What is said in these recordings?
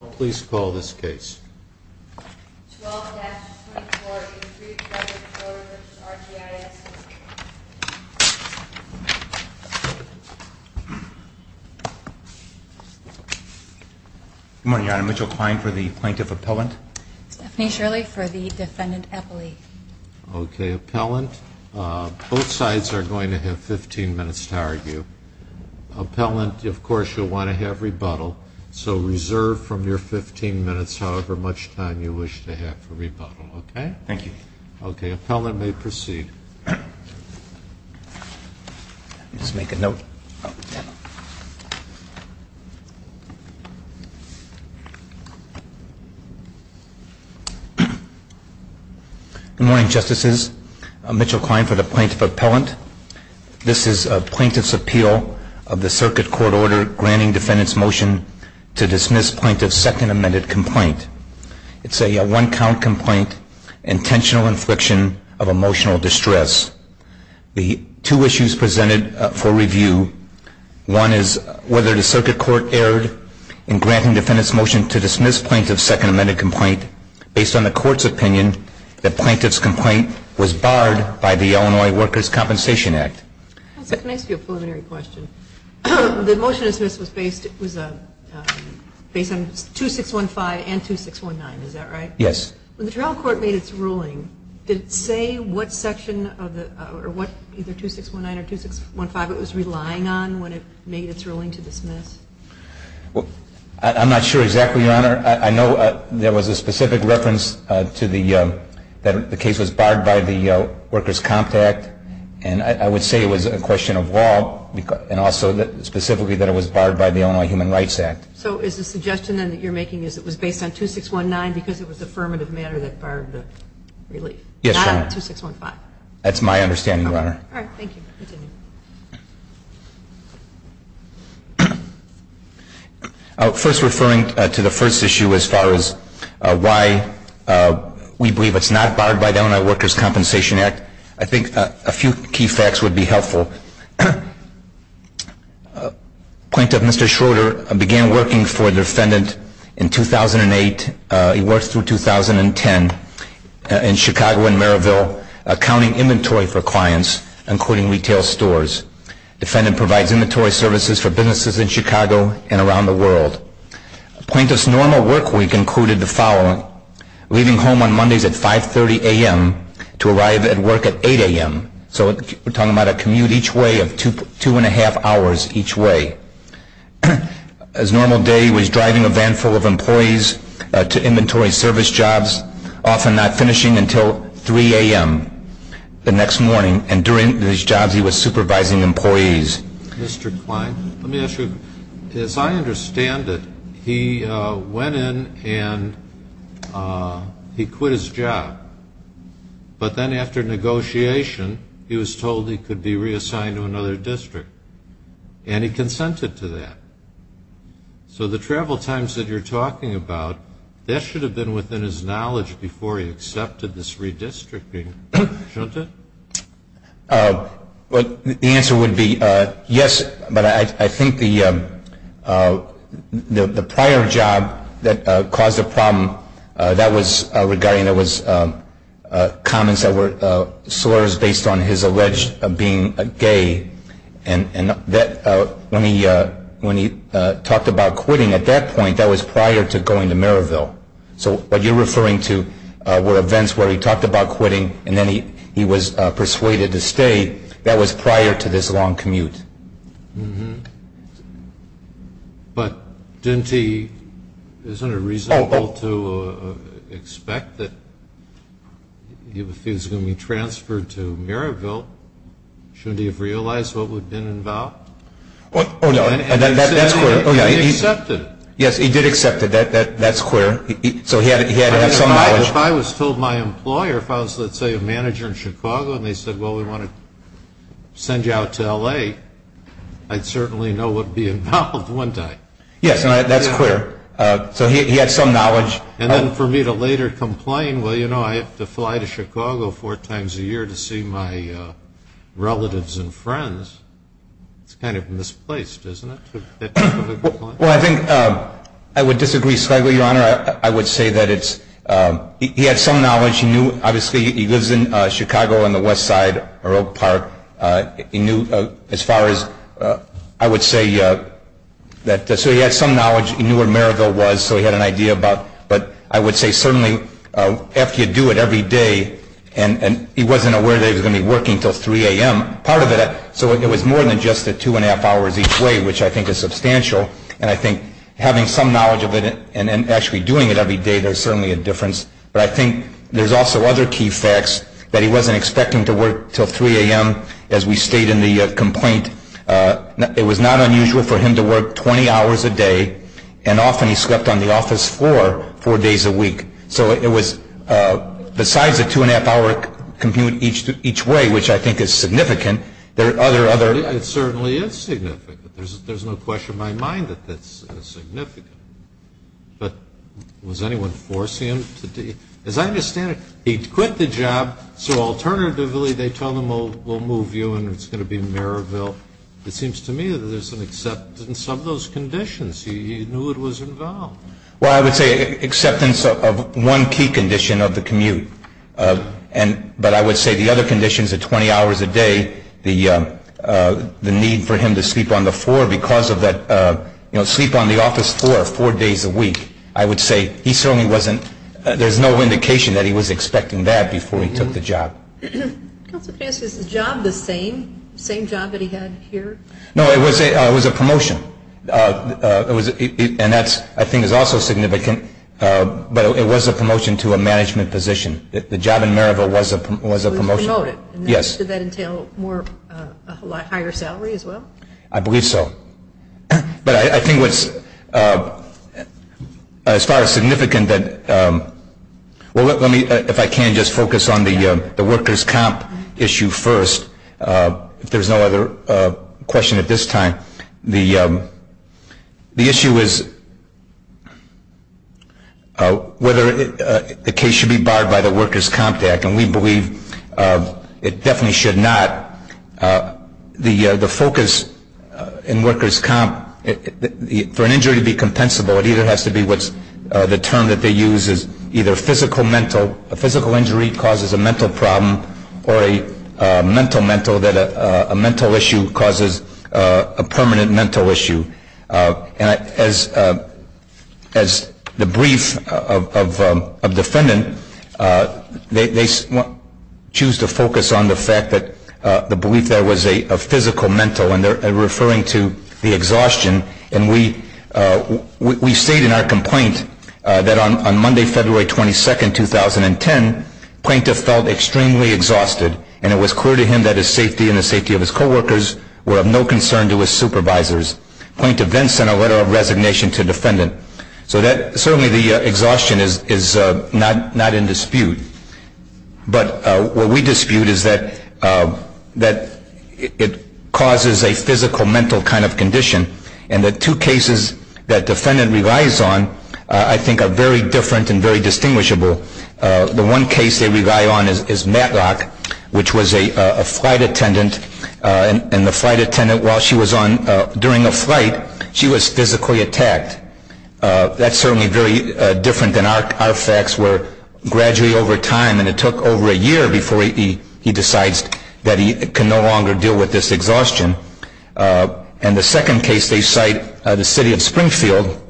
Good morning, Your Honor. Mitchell Kline for the Plaintiff Appellant. Stephanie Shirley for the Defendant Appellee. Okay, Appellant, both sides are going to have 15 minutes to argue. Appellant, of course, you'll want to have rebuttal, so reserve from your 15 minutes however much time you wish to have for rebuttal, okay? Thank you. Okay, Appellant may proceed. Let me just make a note. Good morning, Justices. Mitchell Kline for the Plaintiff Appellant. This is a Plaintiff's Appeal of the Circuit Court Order Granting Defendant's Motion to Dismiss Plaintiff's Second Amended Complaint. It's a one-count complaint, intentional infliction of emotional distress. The two issues presented for review, one is whether the Circuit Court erred in granting Defendant's Motion to Dismiss Plaintiff's Second Amended Complaint based on the Court's opinion that Plaintiff's complaint was barred by the Illinois Workers' Compensation Act. Can I ask you a preliminary question? The Motion to Dismiss was based on 2615 and 2619, is that right? Yes. When the trial court made its ruling, did it say what section or what either 2619 or 2615 it was relying on when it made its ruling to dismiss? I'm not sure exactly, Your Honor. I know there was a specific reference to the case was barred by the Workers' Comp Act. And I would say it was a question of law and also specifically that it was barred by the Illinois Human Rights Act. So is the suggestion then that you're making is it was based on 2619 because it was affirmative matter that barred the relief? Yes, Your Honor. Not 2615? That's my understanding, Your Honor. All right. Thank you. Continue. First, referring to the first issue as far as why we believe it's not barred by the Illinois Workers' Compensation Act, I think a few key facts would be helpful. Plaintiff Mr. Schroeder began working for the defendant in 2008. He worked through 2010 in Chicago and Merrillville accounting inventory for clients, including retail stores. The defendant provides inventory services for businesses in Chicago and around the world. Plaintiff's normal work week included the following, leaving home on Mondays at 5.30 a.m. to arrive at work at 8 a.m. So we're talking about a commute each way of two and a half hours each way. His normal day was driving a van full of employees to inventory service jobs, often not finishing until 3 a.m. the next morning. And during his jobs he was supervising employees. Mr. Klein, let me ask you, as I understand it, he went in and he quit his job. But then after negotiation, he was told he could be reassigned to another district. And he consented to that. So the travel times that you're talking about, that should have been within his knowledge before he accepted this redistricting, shouldn't it? The answer would be yes, but I think the prior job that caused the problem, that was regarding comments that were slurs based on his alleged being gay. And when he talked about quitting at that point, that was prior to going to Merrillville. So what you're referring to were events where he talked about quitting and then he was persuaded to stay. That was prior to this long commute. But isn't it reasonable to expect that he was going to be transferred to Merrillville? Shouldn't he have realized what would have been involved? Oh, no, that's clear. He accepted it. Yes, he did accept it. That's clear. So he had to have some knowledge. If I was told my employer, if I was, let's say, a manager in Chicago, and they said, well, we want to send you out to L.A., I'd certainly know what would be involved, wouldn't I? Yes, that's clear. So he had some knowledge. And then for me to later complain, well, you know, I have to fly to Chicago four times a year to see my relatives and friends. It's kind of misplaced, isn't it? Well, I think I would disagree slightly, Your Honor. I would say that he had some knowledge. He knew, obviously, he lives in Chicago on the west side of Oak Park. He knew as far as I would say that so he had some knowledge. He knew where Merrillville was, so he had an idea about it. But I would say certainly after you do it every day, and he wasn't aware that he was going to be working until 3 a.m., part of it, so it was more than just the two and a half hours each way, which I think is substantial. And I think having some knowledge of it and actually doing it every day, there's certainly a difference. But I think there's also other key facts that he wasn't expecting to work until 3 a.m. as we state in the complaint. It was not unusual for him to work 20 hours a day, and often he slept on the office floor four days a week. So it was besides the two and a half hour commute each way, which I think is significant, there are other other. It certainly is significant. There's no question in my mind that that's significant. But was anyone forcing him to do it? As I understand it, he quit the job, so alternatively they tell him, we'll move you and it's going to be Merrillville. It seems to me that there's an acceptance of those conditions. He knew it was involved. Well, I would say acceptance of one key condition of the commute, but I would say the other conditions of 20 hours a day, the need for him to sleep on the floor because of that, you know, sleep on the office floor four days a week. I would say he certainly wasn't, there's no indication that he was expecting that before he took the job. Is the job the same, same job that he had here? No, it was a promotion, and that's I think is also significant. But it was a promotion to a management position. The job in Merrillville was a promotion. Did that entail a higher salary as well? I believe so. But I think what's as far as significant, if I can just focus on the workers' comp issue first, if there's no other question at this time, the issue is whether the case should be barred by the Workers' Comp Act. And we believe it definitely should not. The focus in Workers' Comp, for an injury to be compensable, it either has to be what's, the term that they use is either physical mental, a physical injury causes a mental problem, or a mental mental, that a mental issue causes a permanent mental issue. And as the brief of defendant, they choose to focus on the fact that the belief there was a physical mental, and they're referring to the exhaustion. And we state in our complaint that on Monday, February 22, 2010, plaintiff felt extremely exhausted, and it was clear to him that his safety and the safety of his co-workers were of no concern to his supervisors. Plaintiff then sent a letter of resignation to defendant. So certainly the exhaustion is not in dispute. But what we dispute is that it causes a physical mental kind of condition. And the two cases that defendant relies on, I think, are very different and very distinguishable. The one case they rely on is Matlock, which was a flight attendant. And the flight attendant, while she was on, during a flight, she was physically attacked. That's certainly very different than our facts, where gradually over time, and it took over a year before he decides that he can no longer deal with this exhaustion. And the second case they cite, the city of Springfield,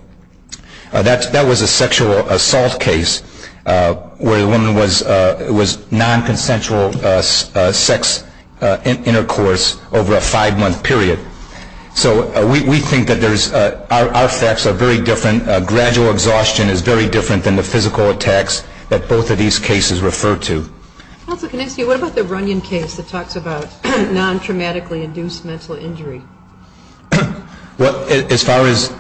that was a sexual assault case, where the woman was nonconsensual sex intercourse over a five-month period. So we think that our facts are very different. Gradual exhaustion is very different than the physical attacks that both of these cases refer to. Counsel, can I ask you, what about the Runyon case that talks about non-traumatically induced mental injury? Well, as far as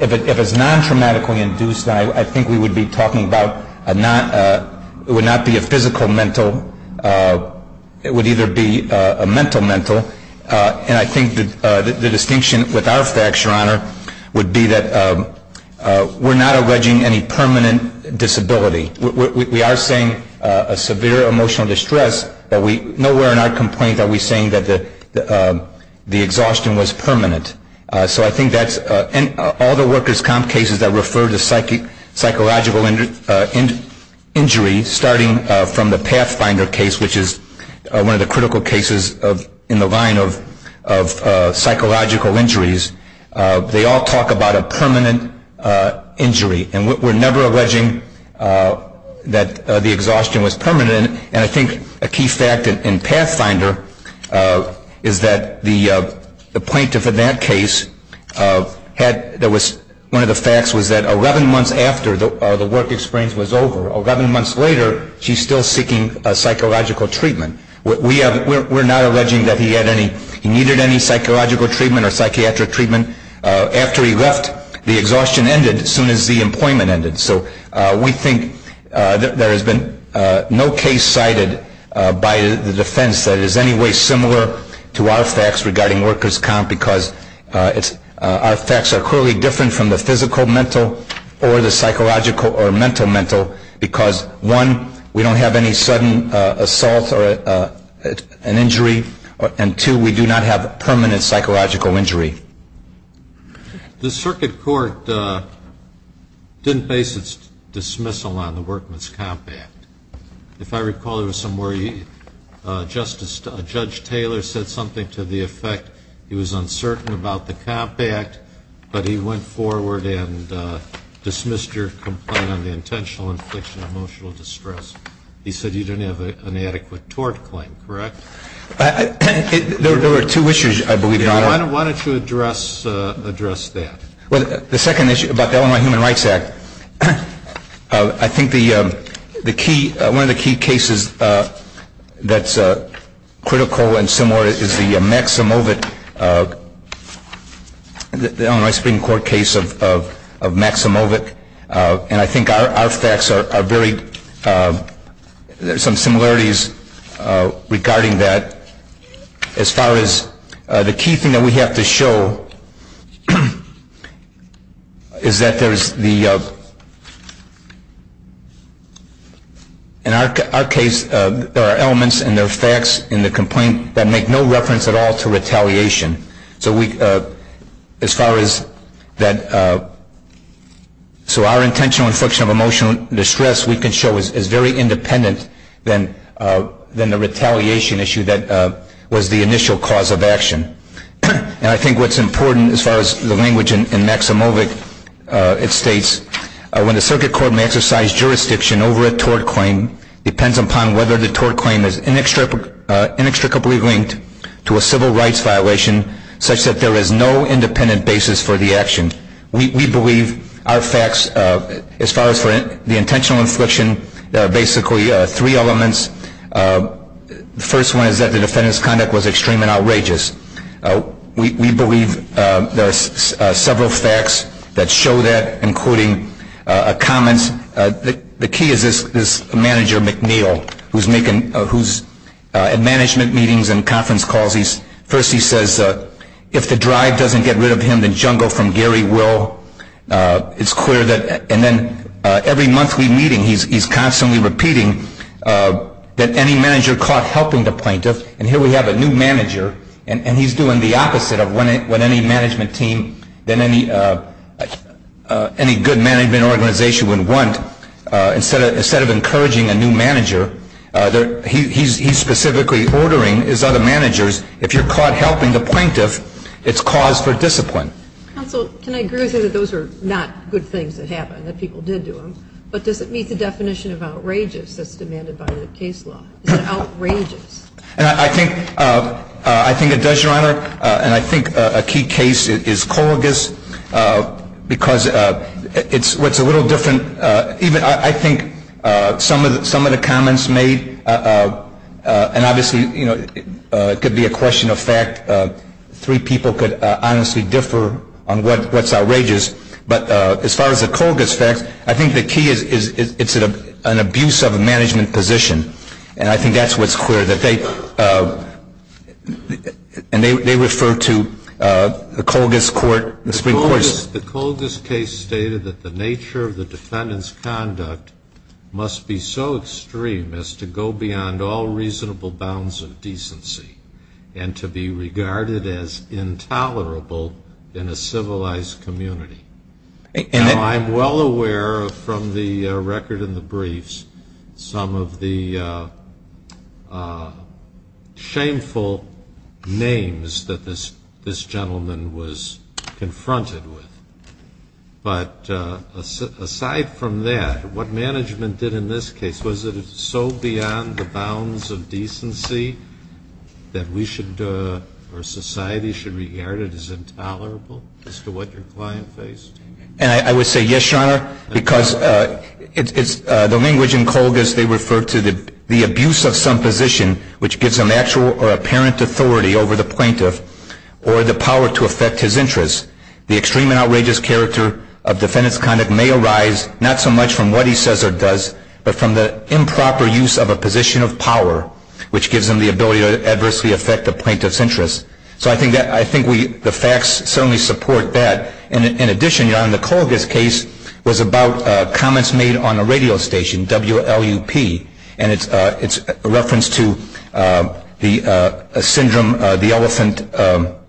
if it's non-traumatically induced, I think we would be talking about it would not be a physical mental. It would either be a mental mental. And I think the distinction with our facts, Your Honor, would be that we're not alleging any permanent disability. We are saying a severe emotional distress, but nowhere in our complaint are we saying that the exhaustion was permanent. So I think that's – and all the workers' comp cases that refer to psychological injury, starting from the Pathfinder case, which is one of the critical cases in the line of psychological injuries, they all talk about a permanent injury. And we're never alleging that the exhaustion was permanent. And I think a key fact in Pathfinder is that the plaintiff in that case had – one of the facts was that 11 months after the work experience was over, 11 months later she's still seeking psychological treatment. We're not alleging that he had any – he needed any psychological treatment or psychiatric treatment. After he left, the exhaustion ended as soon as the employment ended. So we think there has been no case cited by the defense that is any way similar to our facts regarding workers' comp because our facts are clearly different from the physical mental or the psychological or mental mental because one, we don't have any sudden assault or an injury, and two, we do not have permanent psychological injury. The circuit court didn't base its dismissal on the workman's comp act. If I recall, there was some where Justice – Judge Taylor said something to the effect he was uncertain about the comp act, but he went forward and dismissed your complaint on the intentional infliction of emotional distress. He said you didn't have an adequate tort claim, correct? There were two issues, I believe, Your Honor. Why don't you address that? Well, the second issue about the Illinois Human Rights Act, I think the key – one of the key cases that's critical and similar is the Maximovit – the Illinois Supreme Court case of Maximovit, and I think our facts are very – there are some similarities regarding that. As far as the key thing that we have to show is that there is the – in our case, there are elements and there are facts in the complaint that make no reference at all to retaliation. So we – as far as that – so our intentional infliction of emotional distress, we can show is very independent than the retaliation issue that was the initial cause of action. And I think what's important as far as the language in Maximovit, it states, when the circuit court may exercise jurisdiction over a tort claim, depends upon whether the tort claim is inextricably linked to a civil rights violation such that there is no independent basis for the action. We believe our facts, as far as the intentional infliction, there are basically three elements. The first one is that the defendant's conduct was extreme and outrageous. We believe there are several facts that show that, including comments – the key is this manager, McNeil, who's making – who's at management meetings and conference calls. First he says, if the drive doesn't get rid of him, the jungle from Gary will. It's clear that – and then every monthly meeting he's constantly repeating that any manager caught helping the plaintiff – and here we have a new manager and he's doing the opposite of what any management team, any good management organization would want. Instead of encouraging a new manager, he's specifically ordering his other managers, if you're caught helping the plaintiff, it's cause for discipline. Counsel, can I agree with you that those are not good things that happen, that people did do them, but does it meet the definition of outrageous that's demanded by the case law? Is it outrageous? I think it does, Your Honor. And I think a key case is Colgus because it's a little different. I think some of the comments made – and obviously it could be a question of fact. Three people could honestly differ on what's outrageous. But as far as the Colgus facts, I think the key is it's an abuse of a management position. And I think that's what's clear, that they – and they refer to the Colgus court, the Supreme Court. The Colgus case stated that the nature of the defendant's conduct must be so extreme as to go beyond all reasonable bounds of decency and to be regarded as intolerable in a civilized community. Now, I'm well aware from the record in the briefs some of the shameful names that this gentleman was confronted with. But aside from that, what management did in this case, was it so beyond the bounds of decency that we should – And I would say yes, Your Honor, because it's – the language in Colgus, they refer to the abuse of some position which gives them actual or apparent authority over the plaintiff or the power to affect his interests. The extreme and outrageous character of defendant's conduct may arise, not so much from what he says or does, but from the improper use of a position of power, which gives them the ability to adversely affect the plaintiff's interests. So I think we – the facts certainly support that. And in addition, Your Honor, the Colgus case was about comments made on a radio station, WLUP. And it's a reference to the syndrome, the elephant –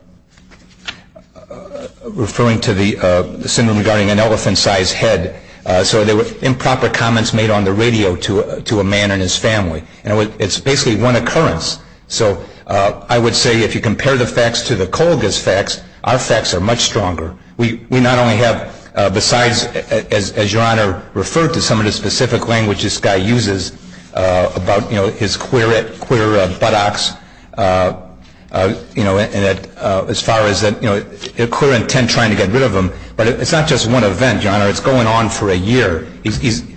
referring to the syndrome regarding an elephant-sized head. So there were improper comments made on the radio to a man and his family. And it's basically one occurrence. So I would say if you compare the facts to the Colgus facts, our facts are much stronger. We not only have – besides, as Your Honor referred to, some of the specific language this guy uses about, you know, his queer buttocks, you know, as far as that, you know, clear intent trying to get rid of him. But it's not just one event, Your Honor. It's going on for a year.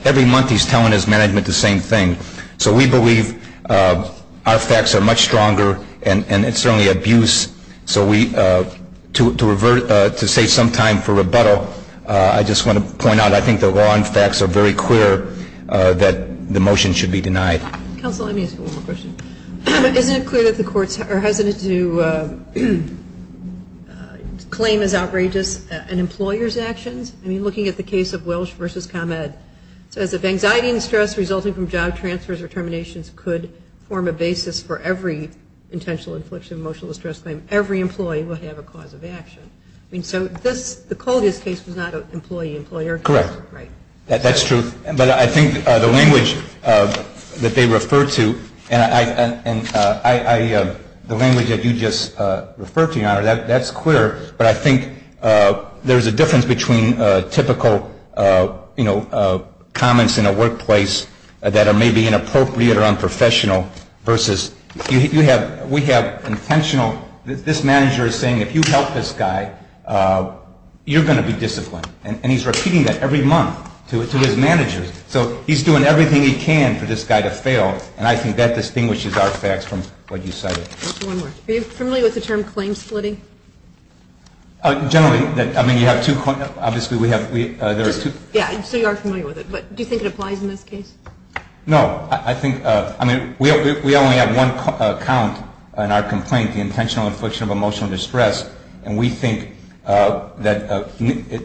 Every month he's telling his management the same thing. So we believe our facts are much stronger. And it's certainly abuse. So we – to save some time for rebuttal, I just want to point out, I think the law and facts are very clear that the motion should be denied. Counsel, let me ask you one more question. Isn't it clear that the courts are hesitant to claim as outrageous an employer's actions? I mean, looking at the case of Welsh v. ComEd, it says if anxiety and stress resulting from job transfers or terminations could form a basis for every intentional infliction of emotional distress claim, every employee will have a cause of action. I mean, so this – the Colgus case was not an employee-employer case. Correct. Right. That's true. But I think the language that they refer to and I – the language that you just referred to, Your Honor, that's clear, but I think there's a difference between typical, you know, comments in a workplace that are maybe inappropriate or unprofessional versus you have – we have intentional – this manager is saying if you help this guy, you're going to be disciplined. And he's repeating that every month to his managers. So he's doing everything he can for this guy to fail, and I think that distinguishes our facts from what you cited. One more. Are you familiar with the term claim splitting? Generally. I mean, you have two – obviously, we have – there are two. Yeah, so you are familiar with it. But do you think it applies in this case? No. I think – I mean, we only have one count in our complaint, the intentional infliction of emotional distress, and we think that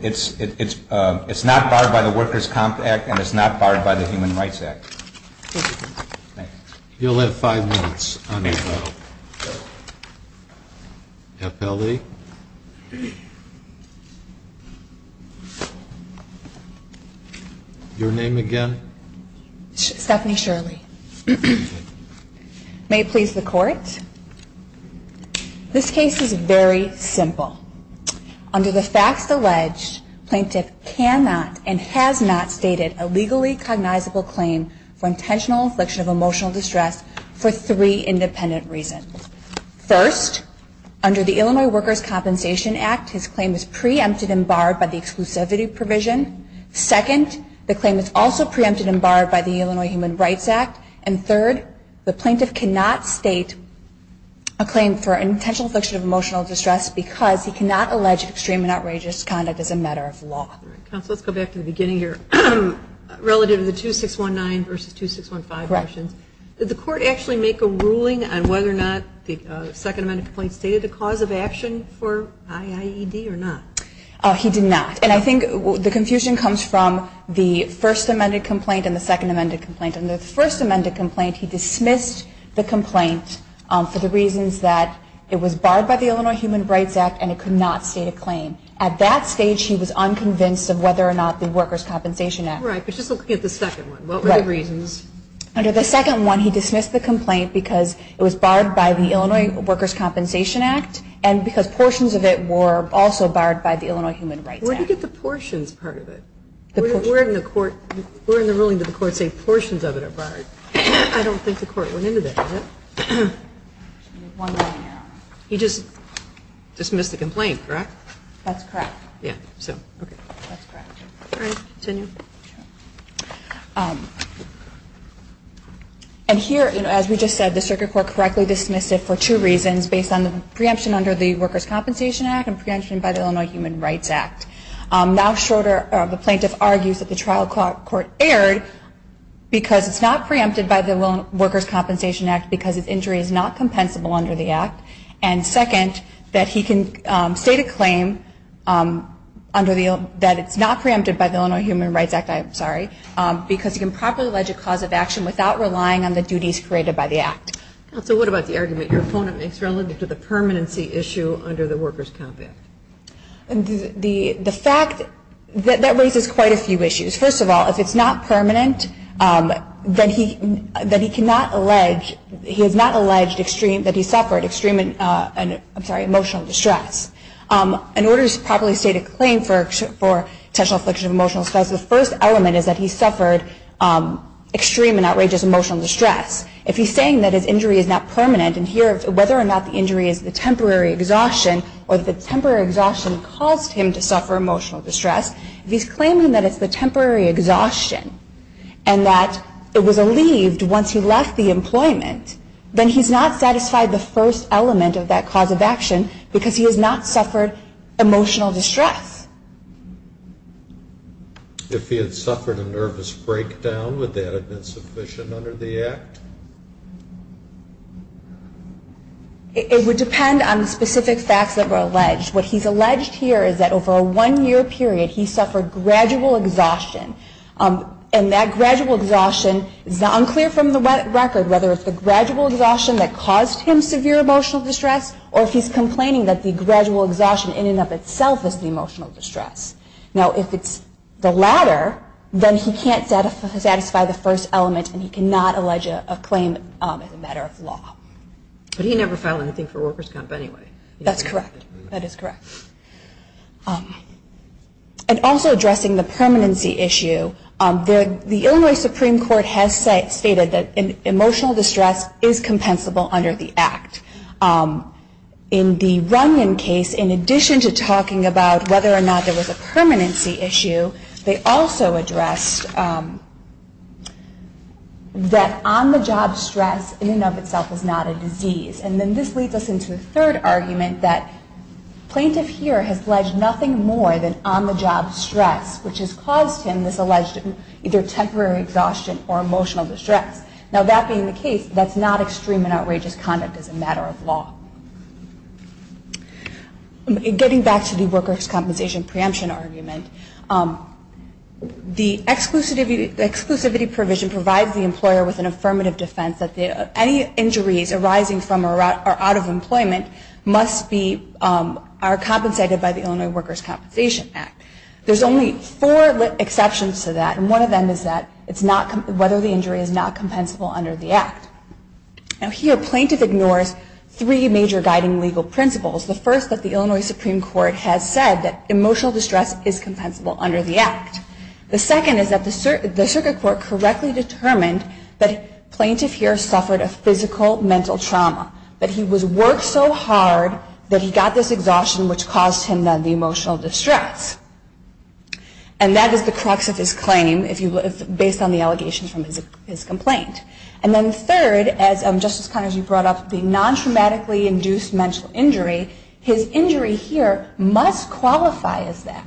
it's not barred by the Workers' Comp Act and it's not barred by the Human Rights Act. Thank you. You'll have five minutes on your bill. FLE? Your name again? Stephanie Shirley. May it please the Court? This case is very simple. Under the facts alleged, plaintiff cannot and has not stated a legally cognizable claim for intentional infliction of emotional distress for three independent reasons. First, under the Illinois Workers' Compensation Act, his claim is preempted and barred by the exclusivity provision. Second, the claim is also preempted and barred by the Illinois Human Rights Act. And third, the plaintiff cannot state a claim for intentional infliction of emotional distress because he cannot allege extreme and outrageous conduct as a matter of law. Counsel, let's go back to the beginning here. Relative to the 2619 versus 2615 motions, did the Court actually make a ruling on whether or not the second amended complaint stated a cause of action for IAED or not? He did not. And I think the confusion comes from the first amended complaint and the second amended complaint. Under the first amended complaint, he dismissed the complaint for the reasons that it was barred by the Illinois Human Rights Act and it could not state a claim. At that stage, he was unconvinced of whether or not the Workers' Compensation Act. Right, but just look at the second one. What were the reasons? Under the second one, he dismissed the complaint because it was barred by the Illinois Workers' Compensation Act and because portions of it were also barred by the Illinois Human Rights Act. Where did he get the portions part of it? Where in the ruling did the Court say portions of it are barred? I don't think the Court went into that, does it? He just dismissed the complaint, correct? That's correct. Yeah, so, okay. That's correct. All right, continue. And here, as we just said, the Circuit Court correctly dismissed it for two reasons, based on the preemption under the Workers' Compensation Act and preemption by the Illinois Human Rights Act. Now shorter, the plaintiff argues that the trial court erred because it's not preempted by the Workers' Compensation Act because its injury is not compensable under the Act. And second, that he can state a claim that it's not preempted by the Illinois Human Rights Act, I'm sorry, because he can properly allege a cause of action without relying on the duties created by the Act. Counsel, what about the argument your opponent makes relative to the permanency issue under the Workers' Comp Act? The fact that that raises quite a few issues. First of all, if it's not permanent, then he cannot allege, he has not alleged extreme, that he suffered extreme, I'm sorry, emotional distress. In order to properly state a claim for potential affliction of emotional distress, the first element is that he suffered extreme and outrageous emotional distress. If he's saying that his injury is not permanent, and here whether or not the injury is the temporary exhaustion or the temporary exhaustion caused him to suffer emotional distress, if he's claiming that it's the temporary exhaustion and that it was alleved once he left the employment, then he's not satisfied the first element of that cause of action because he has not suffered emotional distress. If he had suffered a nervous breakdown, would that have been sufficient under the Act? It would depend on the specific facts that were alleged. What he's alleged here is that over a one-year period, he suffered gradual exhaustion. And that gradual exhaustion is unclear from the record, whether it's the gradual exhaustion that caused him severe emotional distress or if he's complaining that the gradual exhaustion in and of itself is the emotional distress. Now, if it's the latter, then he can't satisfy the first element and he cannot allege a claim as a matter of law. But he never filed anything for Workers' Comp anyway. That's correct. That is correct. And also addressing the permanency issue, the Illinois Supreme Court has stated that emotional distress is compensable under the Act. In the Runyon case, in addition to talking about whether or not there was a permanency issue, they also addressed that on-the-job stress in and of itself is not a disease. And then this leads us into a third argument, that plaintiff here has alleged nothing more than on-the-job stress, which has caused him this alleged either temporary exhaustion or emotional distress. Now, that being the case, that's not extreme and outrageous conduct as a matter of law. Getting back to the Workers' Compensation preemption argument, the exclusivity provision provides the employer with an affirmative defense that any injuries arising from or out of employment are compensated by the Illinois Workers' Compensation Act. There's only four exceptions to that, and one of them is whether the injury is not compensable under the Act. Now, here plaintiff ignores three major guiding legal principles. The first, that the Illinois Supreme Court has said that emotional distress is compensable under the Act. The second is that the circuit court correctly determined that plaintiff here suffered a physical mental trauma, that he worked so hard that he got this exhaustion, which caused him the emotional distress. And that is the crux of his claim, based on the allegation from his complaint. And then third, as Justice Connery brought up, the non-traumatically induced mental injury, his injury here must qualify as that,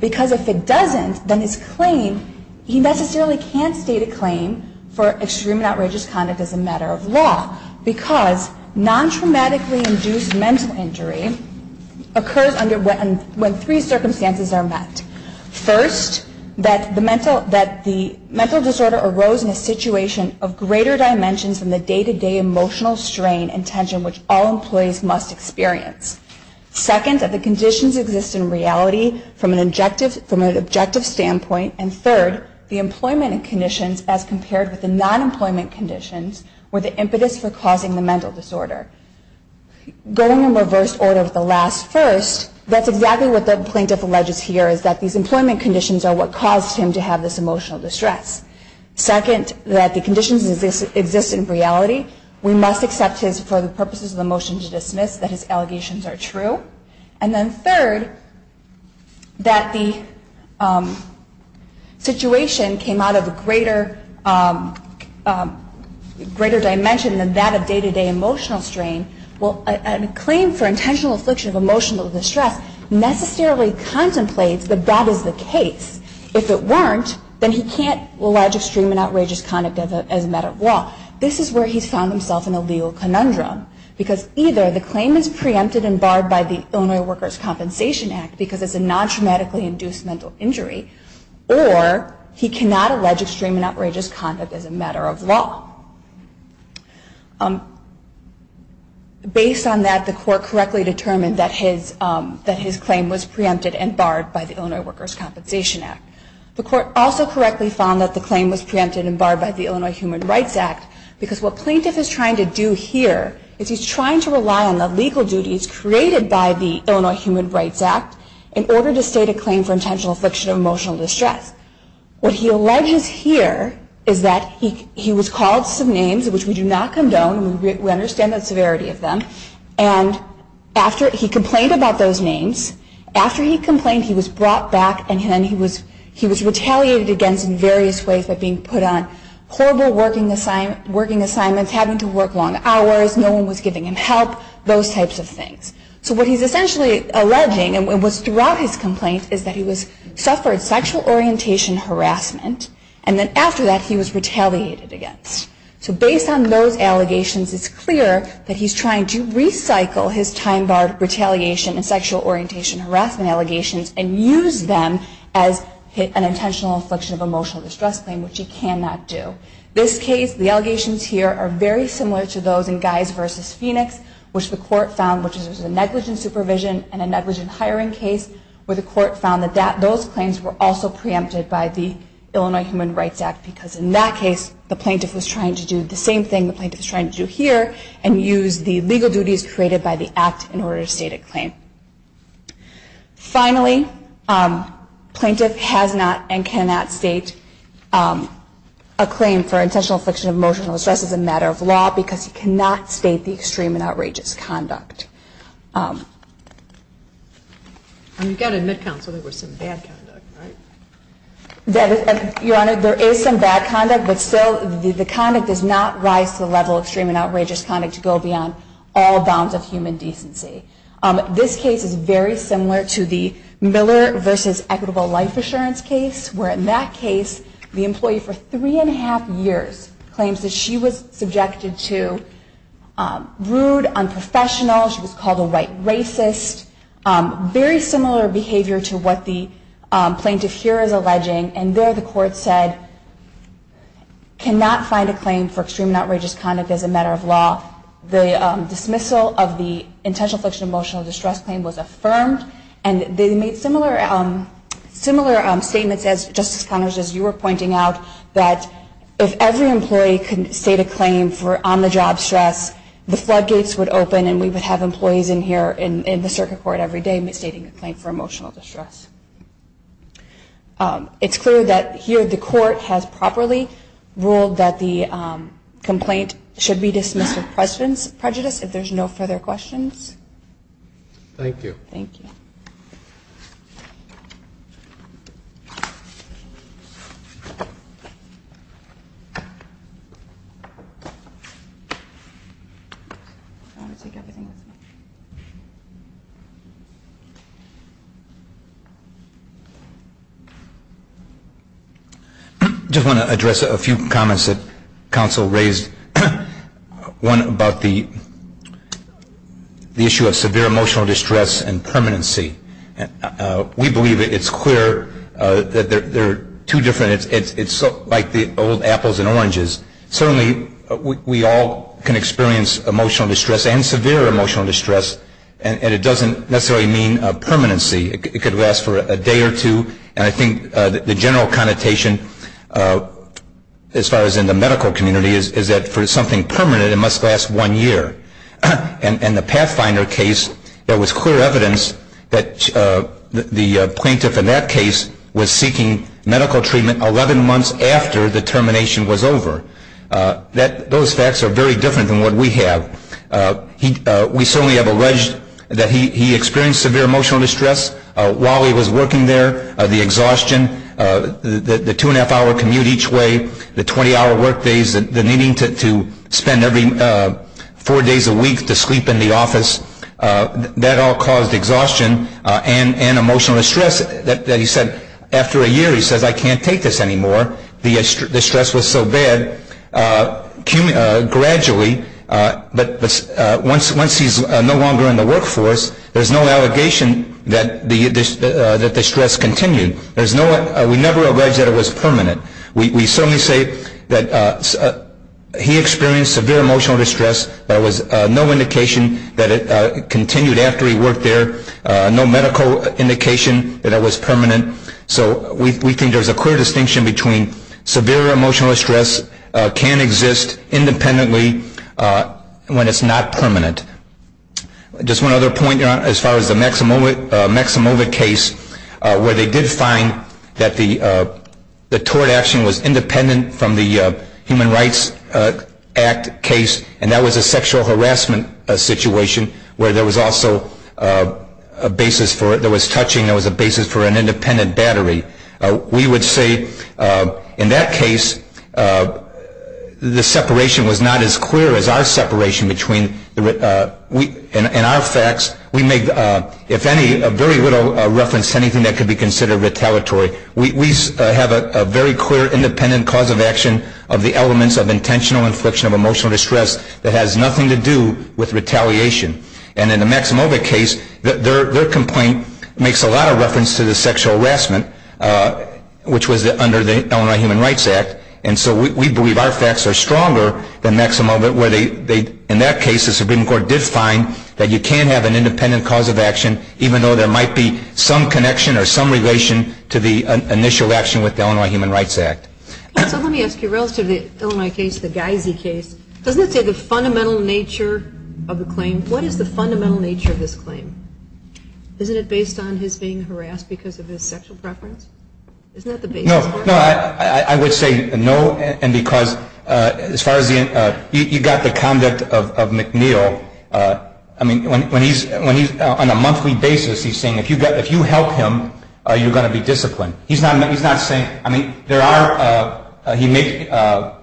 because if it doesn't, then his claim, he necessarily can't state a claim for extreme and outrageous conduct as a matter of law, because non-traumatically induced mental injury occurs when three circumstances are met. First, that the mental disorder arose in a situation of greater dimensions than the day-to-day emotional strain and tension which all employees must experience. Second, that the conditions exist in reality from an objective standpoint. And third, the employment conditions, as compared with the non-employment conditions, were the impetus for causing the mental disorder. Going in reverse order with the last first, that's exactly what the plaintiff alleges here, is that these employment conditions are what caused him to have this emotional distress. Second, that the conditions exist in reality. We must accept his, for the purposes of the motion to dismiss, that his allegations are true. And then third, that the situation came out of a greater dimension than that of day-to-day emotional strain. Well, a claim for intentional affliction of emotional distress necessarily contemplates that that is the case. If it weren't, then he can't allege extreme and outrageous conduct as a matter of law. This is where he's found himself in a legal conundrum, because either the claim is preempted and barred by the Illinois Workers' Compensation Act because it's a non-traumatically induced mental injury, or he cannot allege extreme and outrageous conduct as a matter of law. Based on that, the court correctly determined that his claim was preempted and barred by the Illinois Workers' Compensation Act. The court also correctly found that the claim was preempted and barred by the Illinois Human Rights Act, because what plaintiff is trying to do here is he's trying to rely on the legal duties created by the Illinois Human Rights Act in order to state a claim for intentional affliction of emotional distress. What he alleges here is that he was called some names, which we do not condone, we understand the severity of them, and after he complained about those names, after he complained, he was brought back, and then he was retaliated against in various ways by being put on horrible working assignments, having to work long hours, no one was giving him help, those types of things. So what he's essentially alleging, and what's throughout his complaint, is that he suffered sexual orientation harassment, and then after that, he was retaliated against. So he can file his time-barred retaliation and sexual orientation harassment allegations and use them as an intentional affliction of emotional distress claim, which he cannot do. This case, the allegations here, are very similar to those in Guys v. Phoenix, which the court found was a negligent supervision and a negligent hiring case, where the court found that those claims were also preempted by the Illinois Human Rights Act, because in that case, the plaintiff was trying to do the same thing the plaintiff is trying to do here, and use the legal duties created by the act in order to state a claim. Finally, plaintiff has not and cannot state a claim for intentional affliction of emotional distress as a matter of law, because he cannot state the extreme and outrageous conduct. And you've got to admit, counsel, there was some bad conduct, right? Your Honor, there is some bad conduct, but still the conduct does not rise to the level of extreme and outrageous conduct to go beyond all bounds of human decency. This case is very similar to the Miller v. Equitable Life Assurance case, where in that case, the employee, for three and a half years, claims that she was subjected to rude, unprofessional, she was called a white racist, very similar behavior to what the plaintiff here is alleging, and there the court said, cannot find a claim for extreme and outrageous conduct as a matter of law. The dismissal of the intentional affliction of emotional distress claim was affirmed, and they made similar statements, as Justice Connors, as you were pointing out, that if every employee could state a claim for on-the-job stress, the floodgates would open and we would have employees in here in the circuit court every day stating a claim for emotional distress. It's clear that here the court has properly ruled that the complaint should be dismissed of prejudice. If there's no further questions. Thank you. I just want to address a few comments that counsel raised. One about the issue of severe emotional distress and permanency. They're two different, it's like the old apples and oranges. Certainly we all can experience emotional distress and severe emotional distress, and it doesn't necessarily mean permanency. It could last for a day or two, and I think the general connotation, as far as in the medical community, is that for something permanent it must last one year. And the Pathfinder case, there was clear evidence that the plaintiff in that case was seeking medical treatment 11 months after the termination was over. Those facts are very different than what we have. We certainly have alleged that he experienced severe emotional distress while he was working there, the exhaustion, the two-and-a-half-hour commute each way, the 20-hour workdays, the needing to spend every four days a week to sleep in the office, that all caused exhaustion and emotional distress. He said, after a year, he says, I can't take this anymore. The stress was so bad. Gradually, once he's no longer in the workforce, there's no allegation that the stress continued. We never alleged that it was permanent. We certainly say that he experienced severe emotional distress, but there was no indication that it continued after he worked there, no medical indication that it was permanent. So we think there's a clear distinction between severe emotional distress can exist independently when it's not permanent. Just one other point, as far as the Maximova case, where they did find that the tort action was independent from the Human Rights Act case, and that was a sexual harassment situation where there was also a basis for it. There was touching. There was a basis for an independent battery. We would say, in that case, the separation was not as clear as our separation. In our facts, we make very little reference to anything that could be considered retaliatory. We have a very clear independent cause of action of the elements of intentional infliction of emotional distress that has nothing to do with retaliation. And in the Maximova case, their complaint makes a lot of reference to the sexual harassment, which was under the Illinois Human Rights Act. And so we believe our facts are stronger than Maximova, where in that case the Supreme Court did find that you can have an independent cause of action, even though there might be some connection or some relation to the initial action with the Illinois Human Rights Act. So let me ask you, relative to the Illinois case, the Geise case, doesn't it say the fundamental nature of the claim? What is the fundamental nature of this claim? Isn't it based on his being harassed because of his sexual preference? Isn't that the basis for it? No, I would say no, and because as far as the end, you've got the conduct of McNeil. I mean, when he's on a monthly basis, he's saying, if you help him, you're going to be disciplined. I mean,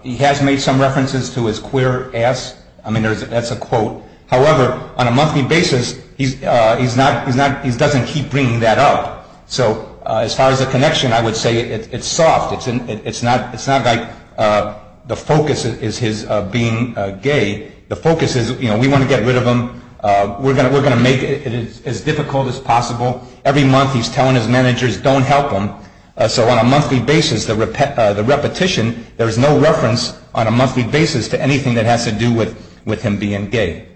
he has made some references to his queer ass. I mean, that's a quote. However, on a monthly basis, he doesn't keep bringing that up. So as far as the connection, I would say it's soft. It's not like the focus is his being gay. The focus is, you know, we want to get rid of him. We're going to make it as difficult as possible. Every month he's telling his managers, don't help him. So on a monthly basis, the repetition, there is no reference on a monthly basis to anything that has to do with him being gay.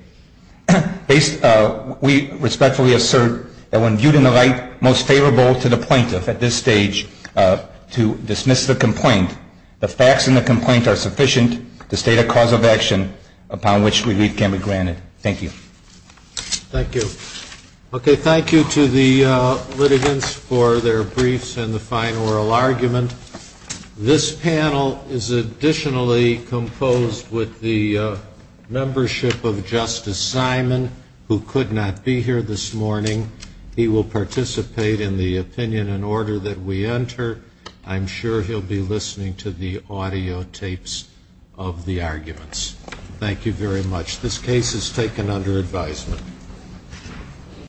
We respectfully assert that when viewed in the light most favorable to the plaintiff at this stage to dismiss the complaint, the facts in the complaint are sufficient to state a cause of action upon which relief can be granted. Thank you. Thank you. Okay. Thank you to the litigants for their briefs and the fine oral argument. This panel is additionally composed with the membership of Justice Simon, who could not be here this morning. He will participate in the opinion and order that we enter. I'm sure he'll be listening to the audio tapes of the arguments. Thank you very much. This case is taken under advisement.